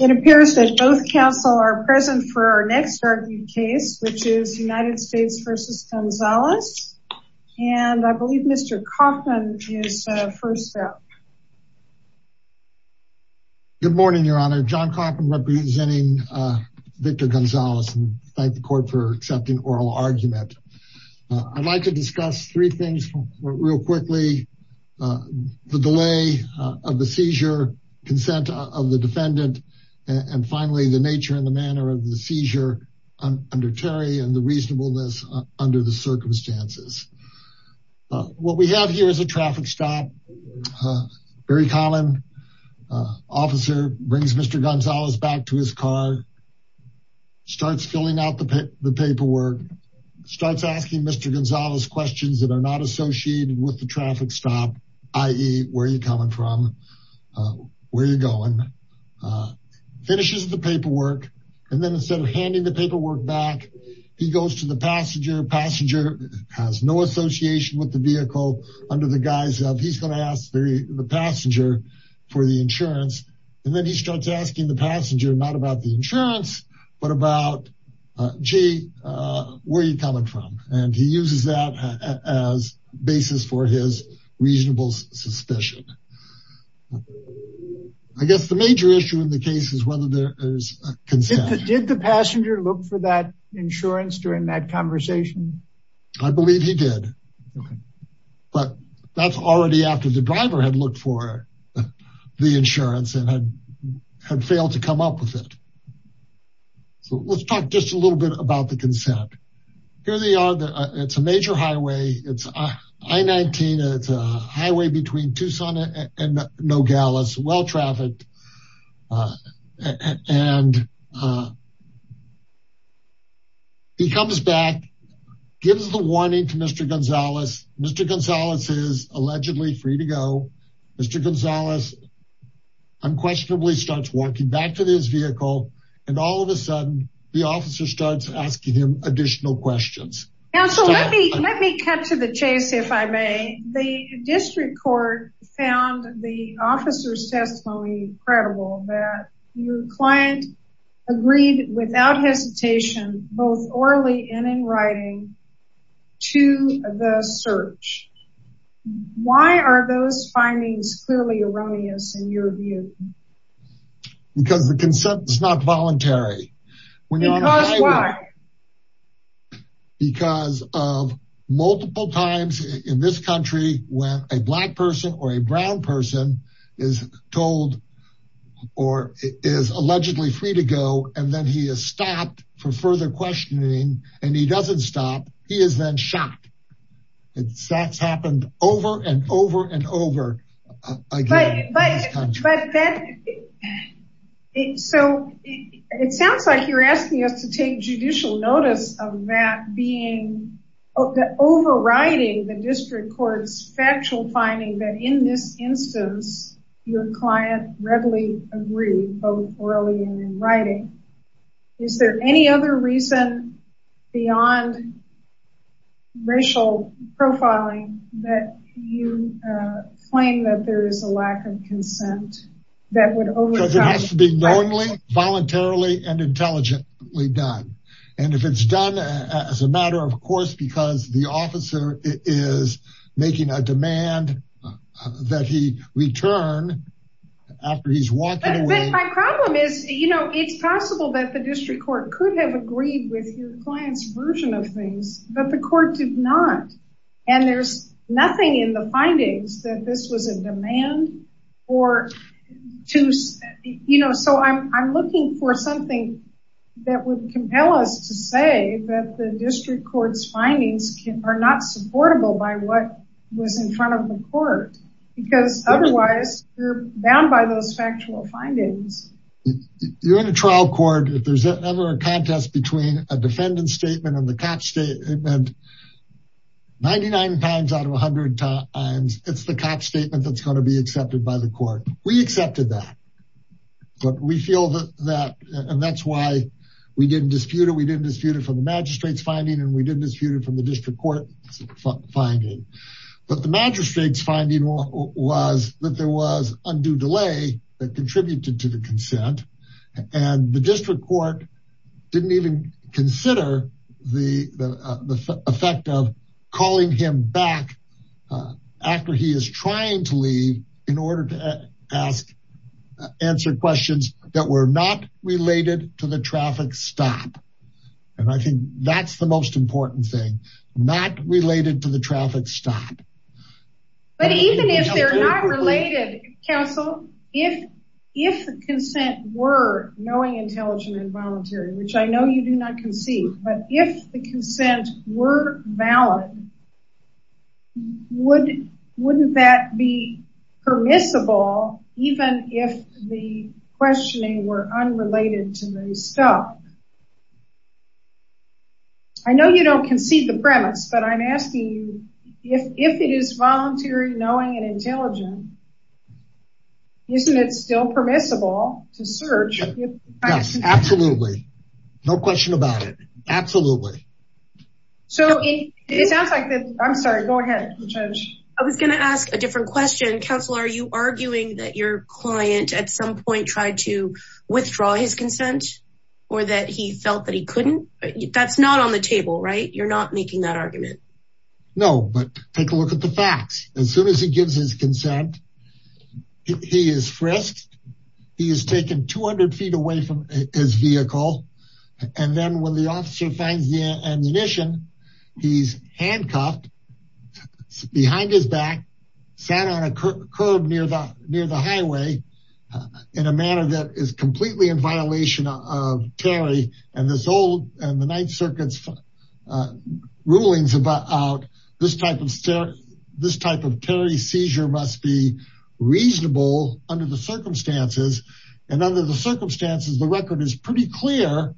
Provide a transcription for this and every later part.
It appears that both counsel are present for our next argued case, which is United States v. Gonzalez, and I believe Mr. Coffman is first up. Good morning, Your Honor. John Coffman, representing Victor Gonzalez, and thank the court for accepting oral argument. I'd like to discuss three things real quickly, the delay of the seizure, consent of the defendant, and finally the nature and the manner of the seizure under Terry and the reasonableness under the circumstances. What we have here is a traffic stop, very common, officer brings Mr. Gonzalez back to his car, starts filling out the paperwork, starts asking Mr. Gonzalez questions that are not associated with the traffic stop, i.e., where are you coming from, where are you going, finishes the paperwork, and then instead of handing the paperwork back, he goes to the passenger, passenger has no association with the vehicle, under the guise of he's going to ask the passenger for the insurance, and then he starts asking the passenger not about the insurance, but about, gee, where are you coming from, and he uses that as basis for his reasonable suspicion. I guess the major issue in the case is whether there is consent. Did the passenger look for that insurance during that conversation? I believe he did, but that's already after the driver had looked for the insurance and had failed to come up with it. So let's talk just a little bit about the consent. Here they are, it's a major highway, it's I-19, it's a highway between Tucson and Nogales, well-trafficked, and he comes back, gives the warning to Mr. Gonzalez, Mr. Gonzalez is allegedly free to go. Mr. Gonzalez unquestionably starts walking back to his vehicle, and all of a sudden, the officer starts asking him additional questions. Counsel, let me cut to the chase, if I may. The district court found the officer's testimony credible, that your client agreed without hesitation, both orally and in writing, to the search. Why are those findings clearly erroneous in your view? Because the consent is not voluntary. Because why? Because of multiple times in this country when a black person or a brown person is told or is allegedly free to go, and then he is stopped for further questioning, and he doesn't stop, he is then shot. That's happened over and over and over. But that, so it sounds like you're asking us to take judicial notice of that being, overriding the district court's factual finding that in this instance, your client readily agreed, both orally and in writing. Is there any other reason beyond racial profiling that you claim that there is a lack of consent? Because it has to be knowingly, voluntarily, and intelligently done. And if it's done as a matter of course, because the officer is making a demand that he return after he's walking away. But my problem is, you know, it's possible that the district court could have agreed with your client's version of things, but the court did not. And there's nothing in the findings that this was a demand or to, you know, so I'm looking for something that would compel us to say that the district court's findings are not supportable by what was in front of the court. Because otherwise, you're bound by those factual findings. You're in a trial court, if there's ever a contest between a defendant's statement and the cop's statement, 99 times out of 100 times, it's the cop's statement that's going to be accepted by the court. We accepted that, but we feel that, and that's why we didn't dispute it. We didn't dispute it from the magistrate's finding, and we didn't dispute it from the district court finding. But the magistrate's finding was that there was undue delay that contributed to the consent, and the district court didn't even consider the effect of calling him back after he is trying to leave in order to ask, answer questions that were not related to the traffic stop. And I think that's the most important thing, not related to the traffic stop. But even if they're not related, counsel, if the consent were knowing, intelligent, and voluntary, which I know you do not concede, but if the consent were valid, wouldn't that be permissible even if the questioning were unrelated to the stop? I know you don't concede the premise, but I'm asking you, if it is voluntary, knowing, and intelligent, isn't it still permissible to search? Yes, absolutely. No question about it. Absolutely. It sounds like, I'm sorry, go ahead, Judge. I was going to ask a different question. Counsel, are you arguing that your client at some point tried to withdraw his consent, or that he felt that he couldn't? That's not on the table, right? You're not making that argument. No, but take a look at the facts. As soon as he gives his consent, he is frisked, he is taken 200 feet away from his vehicle, and then when the officer finds the ammunition, he's handcuffed behind his back, sat on a curb near the highway, in a manner that is completely in violation of Terry, and the Ninth Circuit's rulings about this type of Terry seizure must be reasonable under the circumstances, and under the circumstances, the record is pretty clear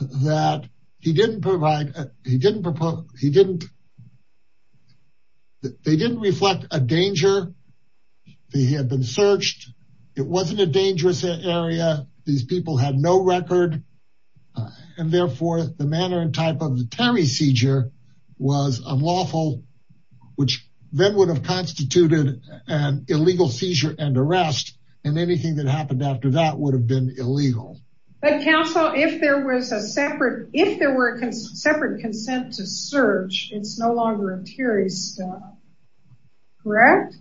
that they didn't reflect a danger. They had been searched. It wasn't a dangerous area. These people had no record, and therefore, the manner and type of the Terry seizure was unlawful, which then would have constituted an illegal seizure and arrest, and anything that happened after that would have been illegal. But counsel, if there were separate consent to search, it's no longer a Terry stop, correct?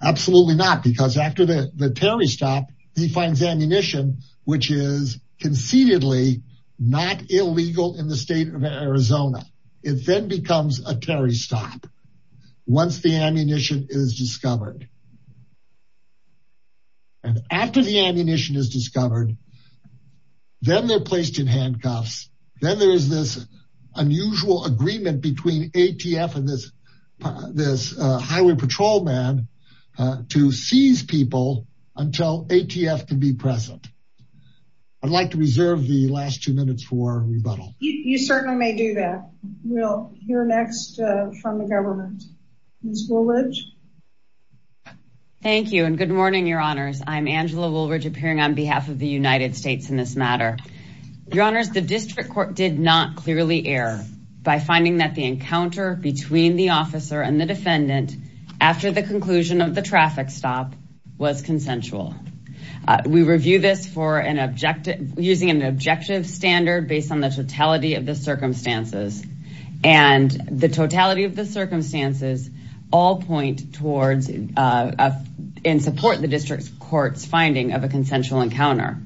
Absolutely not, because after the Terry stop, he finds ammunition, which is concededly not illegal in the state of Arizona. It then becomes a Terry stop, once the ammunition is discovered. And after the ammunition is discovered, then they're placed in handcuffs. Then there is this unusual agreement between ATF and this highway patrolman to seize people until ATF can be present. I'd like to reserve the last two minutes for rebuttal. You certainly may do that. We'll hear next from the government. Ms. Woolidge? Thank you, and good morning, Your Honors. I'm Angela Woolridge, appearing on behalf of the United States in this matter. Your Honors, the district court did not clearly err by finding that the encounter between the officer and the defendant after the conclusion of the traffic stop was consensual. We review this using an objective standard based on the totality of the circumstances, and the totality of the circumstances all point towards and support the district court's finding of a consensual encounter.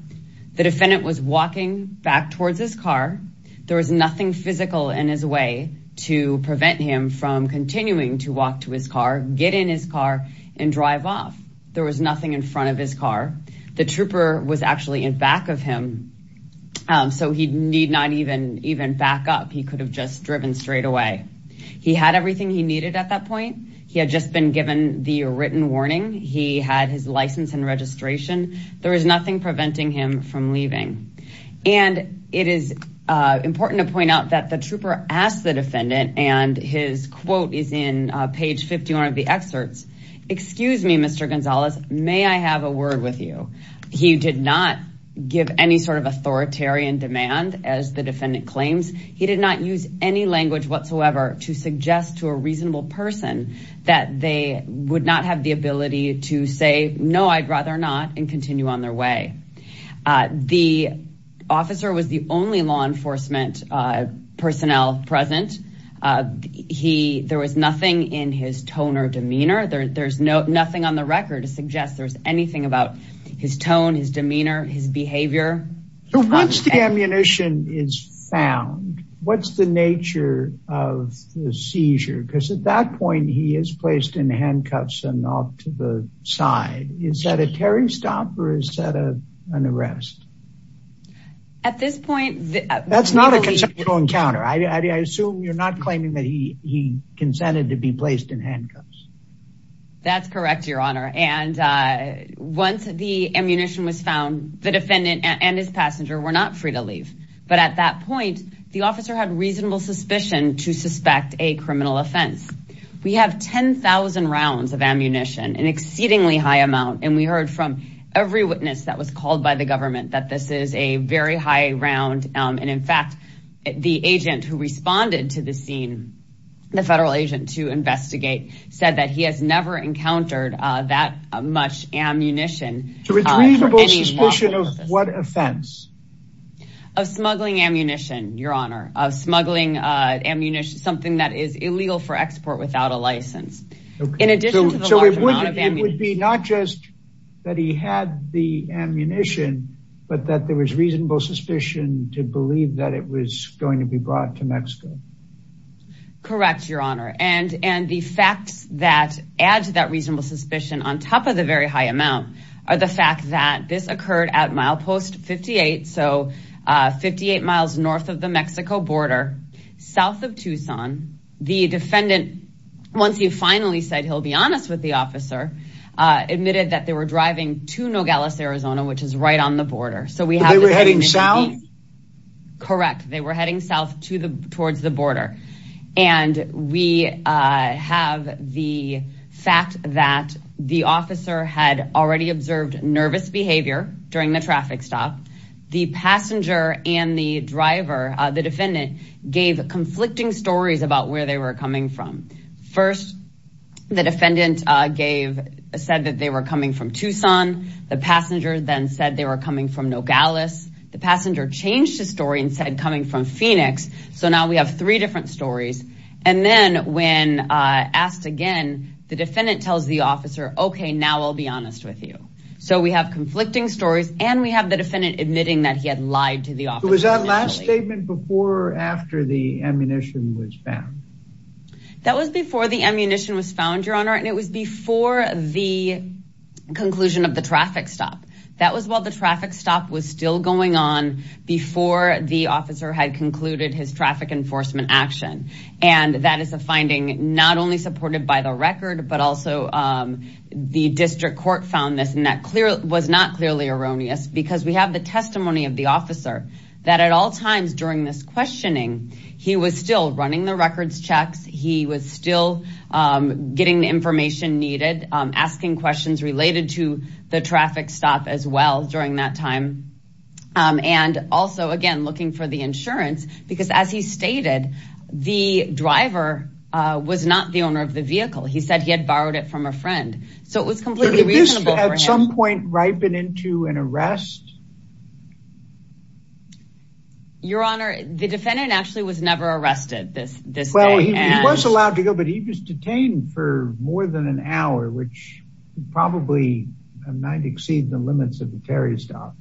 The defendant was walking back towards his car. There was nothing physical in his way to prevent him from continuing to walk to his car, get in his car, and drive off. There was nothing in front of his car. The trooper was actually in back of him, so he did not even back up. He could have just driven straight away. He had everything he needed at that point. He had just been given the written warning. He had his license and registration. There was nothing preventing him from leaving. And it is important to point out that the trooper asked the defendant, and his quote is in page 51 of the excerpts, Excuse me, Mr. Gonzalez, may I have a word with you? He did not give any sort of authoritarian demand, as the defendant claims. He did not use any language whatsoever to suggest to a reasonable person that they would not have the ability to say, no, I'd rather not, and continue on their way. The officer was the only law enforcement personnel present. There was nothing in his tone or demeanor. There's nothing on the record to suggest there's anything about his tone, his demeanor, his behavior. So once the ammunition is found, what's the nature of the seizure? Because at that point, he is placed in handcuffs and off to the side. Is that a Terry stop, or is that an arrest? At this point, that's not a conceptual encounter. I assume you're not claiming that he consented to be placed in handcuffs. That's correct, Your Honor. And once the ammunition was found, the defendant and his passenger were not free to leave. But at that point, the officer had reasonable suspicion to suspect a criminal offense. We have 10,000 rounds of ammunition, an exceedingly high amount. And we heard from every witness that was called by the government that this is a very high round. And in fact, the agent who responded to the scene, the federal agent to investigate, said that he has never encountered that much ammunition. Retrievable suspicion of what offense? Of smuggling ammunition, Your Honor, of smuggling ammunition, something that is illegal for export without a license. So it would be not just that he had the ammunition, but that there was reasonable suspicion to believe that it was going to be brought to Mexico. Correct, Your Honor. And the facts that add to that reasonable suspicion on top of the very high amount are the fact that this occurred at milepost 58, so 58 miles north of the Mexico border, south of Tucson. The defendant, once he finally said he'll be honest with the officer, admitted that they were driving to Nogales, Arizona, which is right on the border. They were heading south? Correct. They were heading south towards the border. And we have the fact that the officer had already observed nervous behavior during the traffic stop. The passenger and the driver, the defendant, gave conflicting stories about where they were coming from. First, the defendant said that they were coming from Tucson. The passenger then said they were coming from Nogales. The passenger changed his story and said coming from Phoenix. So now we have three different stories. And then when asked again, the defendant tells the officer, OK, now I'll be honest with you. So we have conflicting stories and we have the defendant admitting that he had lied to the officer. Was that last statement before or after the ammunition was found? That was before the ammunition was found, Your Honor, and it was before the conclusion of the traffic stop. That was while the traffic stop was still going on, before the officer had concluded his traffic enforcement action. And that is a finding not only supported by the record, but also the district court found this, and that was not clearly erroneous. Because we have the testimony of the officer that at all times during this questioning, he was still running the records checks. He was still getting the information needed, asking questions related to the traffic stop as well during that time. And also, again, looking for the insurance, because as he stated, the driver was not the owner of the vehicle. He said he had borrowed it from a friend. So it was completely reasonable for him. Did he at some point ripen into an arrest? Your Honor, the defendant actually was never arrested this day. Well, he was allowed to go, but he was detained for more than an hour, which probably might exceed the limits of the tariff stop.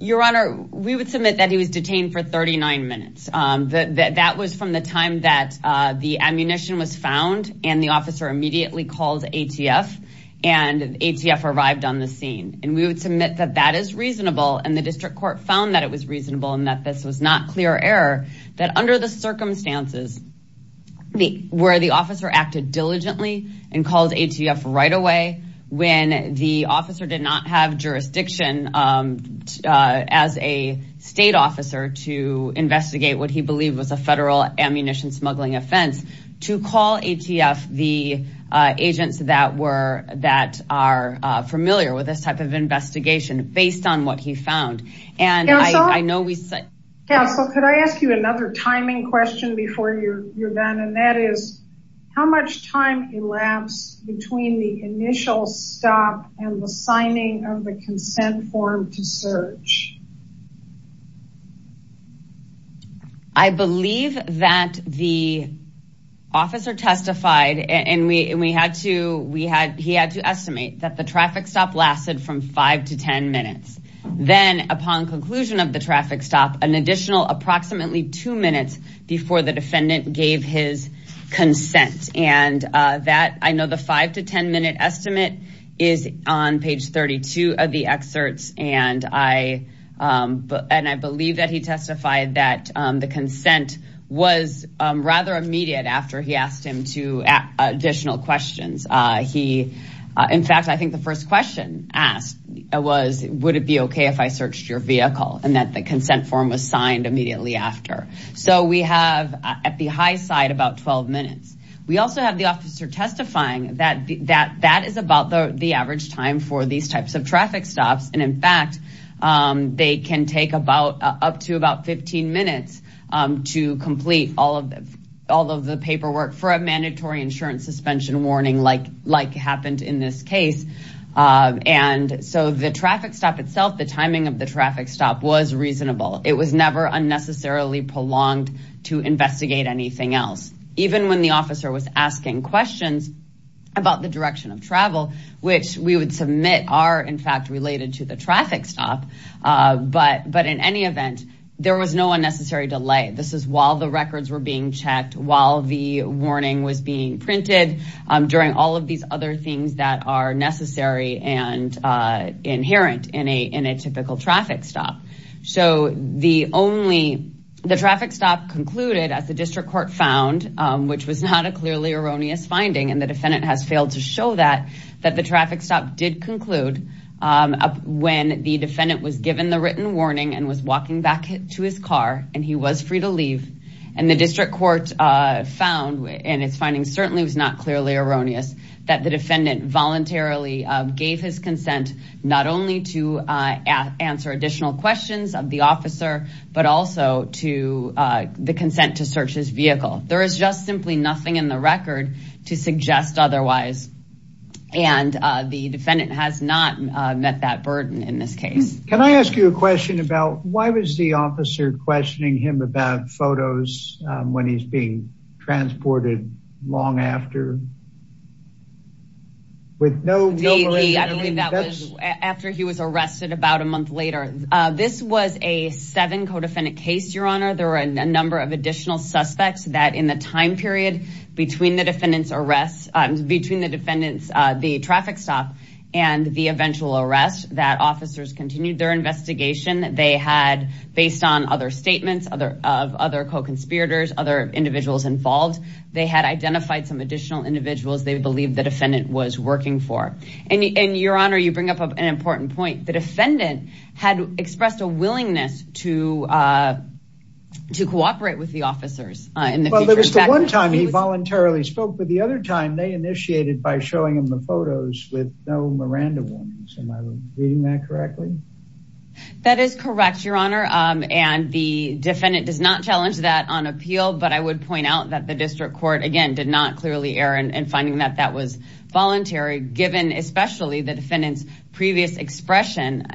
Your Honor, we would submit that he was detained for 39 minutes. That was from the time that the ammunition was found, and the officer immediately called ATF, and ATF arrived on the scene. And we would submit that that is reasonable, and the district court found that it was reasonable, and that this was not clear error, that under the circumstances where the officer acted diligently and called ATF right away, when the officer did not have jurisdiction as a state officer to investigate what he believed was a federal ammunition smuggling offense, to call ATF the agents that are familiar with this type of investigation, based on what he found. Counsel, could I ask you another timing question before you're done? And that is, how much time elapsed between the initial stop and the signing of the consent form to search? I believe that the officer testified, and he had to estimate that the traffic stop lasted from 5 to 10 minutes. Then, upon conclusion of the traffic stop, an additional approximately two minutes before the defendant gave his consent. And that, I know the 5 to 10 minute estimate is on page 32 of the excerpts, and I believe that he testified that the consent was rather immediate after he asked him two additional questions. In fact, I think the first question asked was, would it be okay if I searched your vehicle? And that the consent form was signed immediately after. So we have, at the high side, about 12 minutes. We also have the officer testifying that that is about the average time for these types of traffic stops, and in fact, they can take up to about 15 minutes to complete all of the paperwork for a mandatory insurance suspension warning like happened in this case. And so the traffic stop itself, the timing of the traffic stop was reasonable. It was never unnecessarily prolonged to investigate anything else. Even when the officer was asking questions about the direction of travel, which we would submit are in fact related to the traffic stop, but in any event, there was no unnecessary delay. This is while the records were being checked, while the warning was being printed, during all of these other things that are necessary and inherent in a typical traffic stop. So the traffic stop concluded, as the district court found, which was not a clearly erroneous finding, and the defendant has failed to show that, that the traffic stop did conclude when the defendant was given the written warning and was walking back to his car and he was free to leave. And the district court found, and it's finding certainly was not clearly erroneous, that the defendant voluntarily gave his consent not only to answer additional questions of the officer, but also to the consent to search his vehicle. There is just simply nothing in the record to suggest otherwise. And the defendant has not met that burden in this case. Can I ask you a question about why was the officer questioning him about photos when he's being transported long after? I believe that was after he was arrested about a month later. This was a seven co-defendant case, Your Honor. There were a number of additional suspects that in the time period between the defendant's arrest, between the defendant's, the traffic stop and the eventual arrest, that officers continued their investigation. They had, based on other statements of other co-conspirators, other individuals involved, they had identified some additional individuals they believed the defendant was working for. And Your Honor, you bring up an important point. The defendant had expressed a willingness to cooperate with the officers. Well, there was the one time he voluntarily spoke, but the other time they initiated by showing him the photos with no Miranda warnings. Am I reading that correctly? That is correct, Your Honor. And the defendant does not challenge that on appeal. But I would point out that the district court, again, did not clearly err in finding that that was voluntary, given especially the defendant's previous expression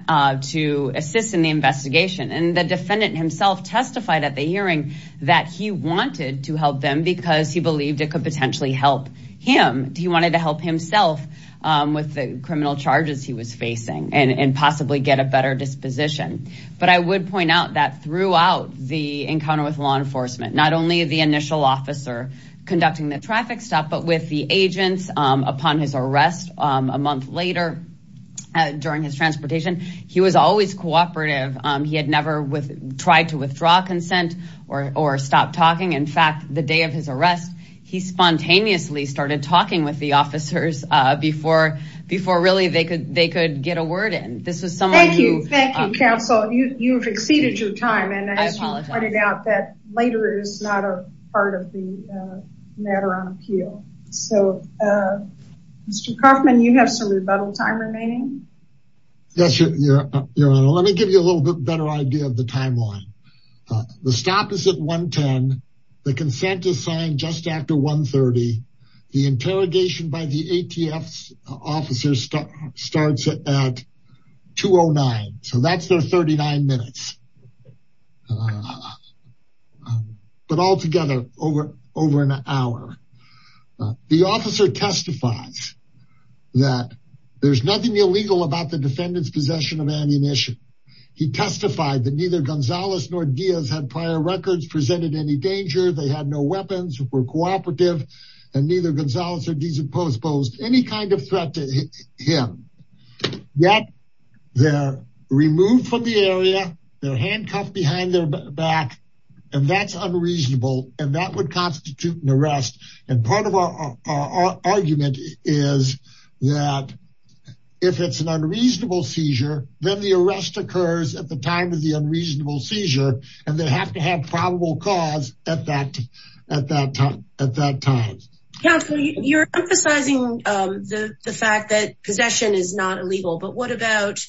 to assist in the investigation. And the defendant himself testified at the hearing that he wanted to help them because he believed it could potentially help him. He wanted to help himself with the criminal charges he was facing and possibly get a better disposition. But I would point out that throughout the encounter with law enforcement, not only the initial officer conducting the traffic stop, but with the agents upon his arrest a month later during his transportation, he was always cooperative. He never tried to withdraw consent or stop talking. In fact, the day of his arrest, he spontaneously started talking with the officers before really they could get a word in. Thank you, counsel. You've exceeded your time. And as you pointed out, that later is not a part of the matter on appeal. So, Mr. Kaufman, you have some rebuttal time remaining. Yes, Your Honor. Well, let me give you a little bit better idea of the timeline. The stop is at 1.10. The consent is signed just after 1.30. The interrogation by the ATF officer starts at 2.09. So that's their 39 minutes. But altogether, over an hour. The officer testifies that there's nothing illegal about the defendant's possession of ammunition. He testified that neither Gonzalez nor Diaz had prior records, presented any danger. They had no weapons, were cooperative, and neither Gonzalez or Diaz exposed any kind of threat to him. Yet, they're removed from the area. They're handcuffed behind their back. And that's unreasonable. And that would constitute an arrest. And part of our argument is that if it's an unreasonable seizure, then the arrest occurs at the time of the unreasonable seizure. And they have to have probable cause at that time. Counsel, you're emphasizing the fact that possession is not illegal. But what about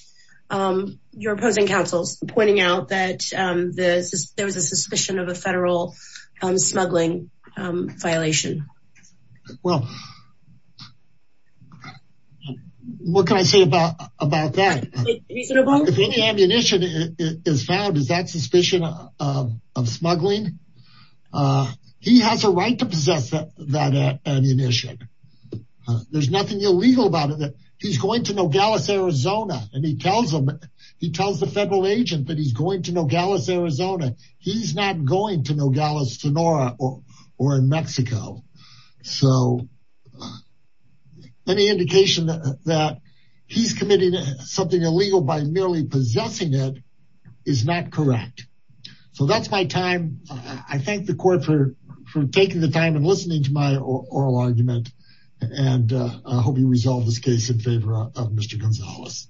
your opposing counsels pointing out that there was a suspicion of a federal smuggling violation? Well, what can I say about that? If any ammunition is found, is that suspicion of smuggling? He has a right to possess that ammunition. There's nothing illegal about it. He's going to Nogales, Arizona. And he tells them, he tells the federal agent that he's going to Nogales, Arizona. He's not going to Nogales, Sonora or in Mexico. So any indication that he's committing something illegal by merely possessing it is not correct. So that's my time. I thank the court for taking the time and listening to my oral argument. And I hope you resolve this case in favor of Mr. Gonzalez.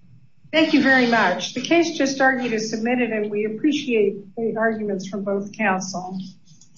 Thank you very much. The case just argued is submitted, and we appreciate the arguments from both counsels.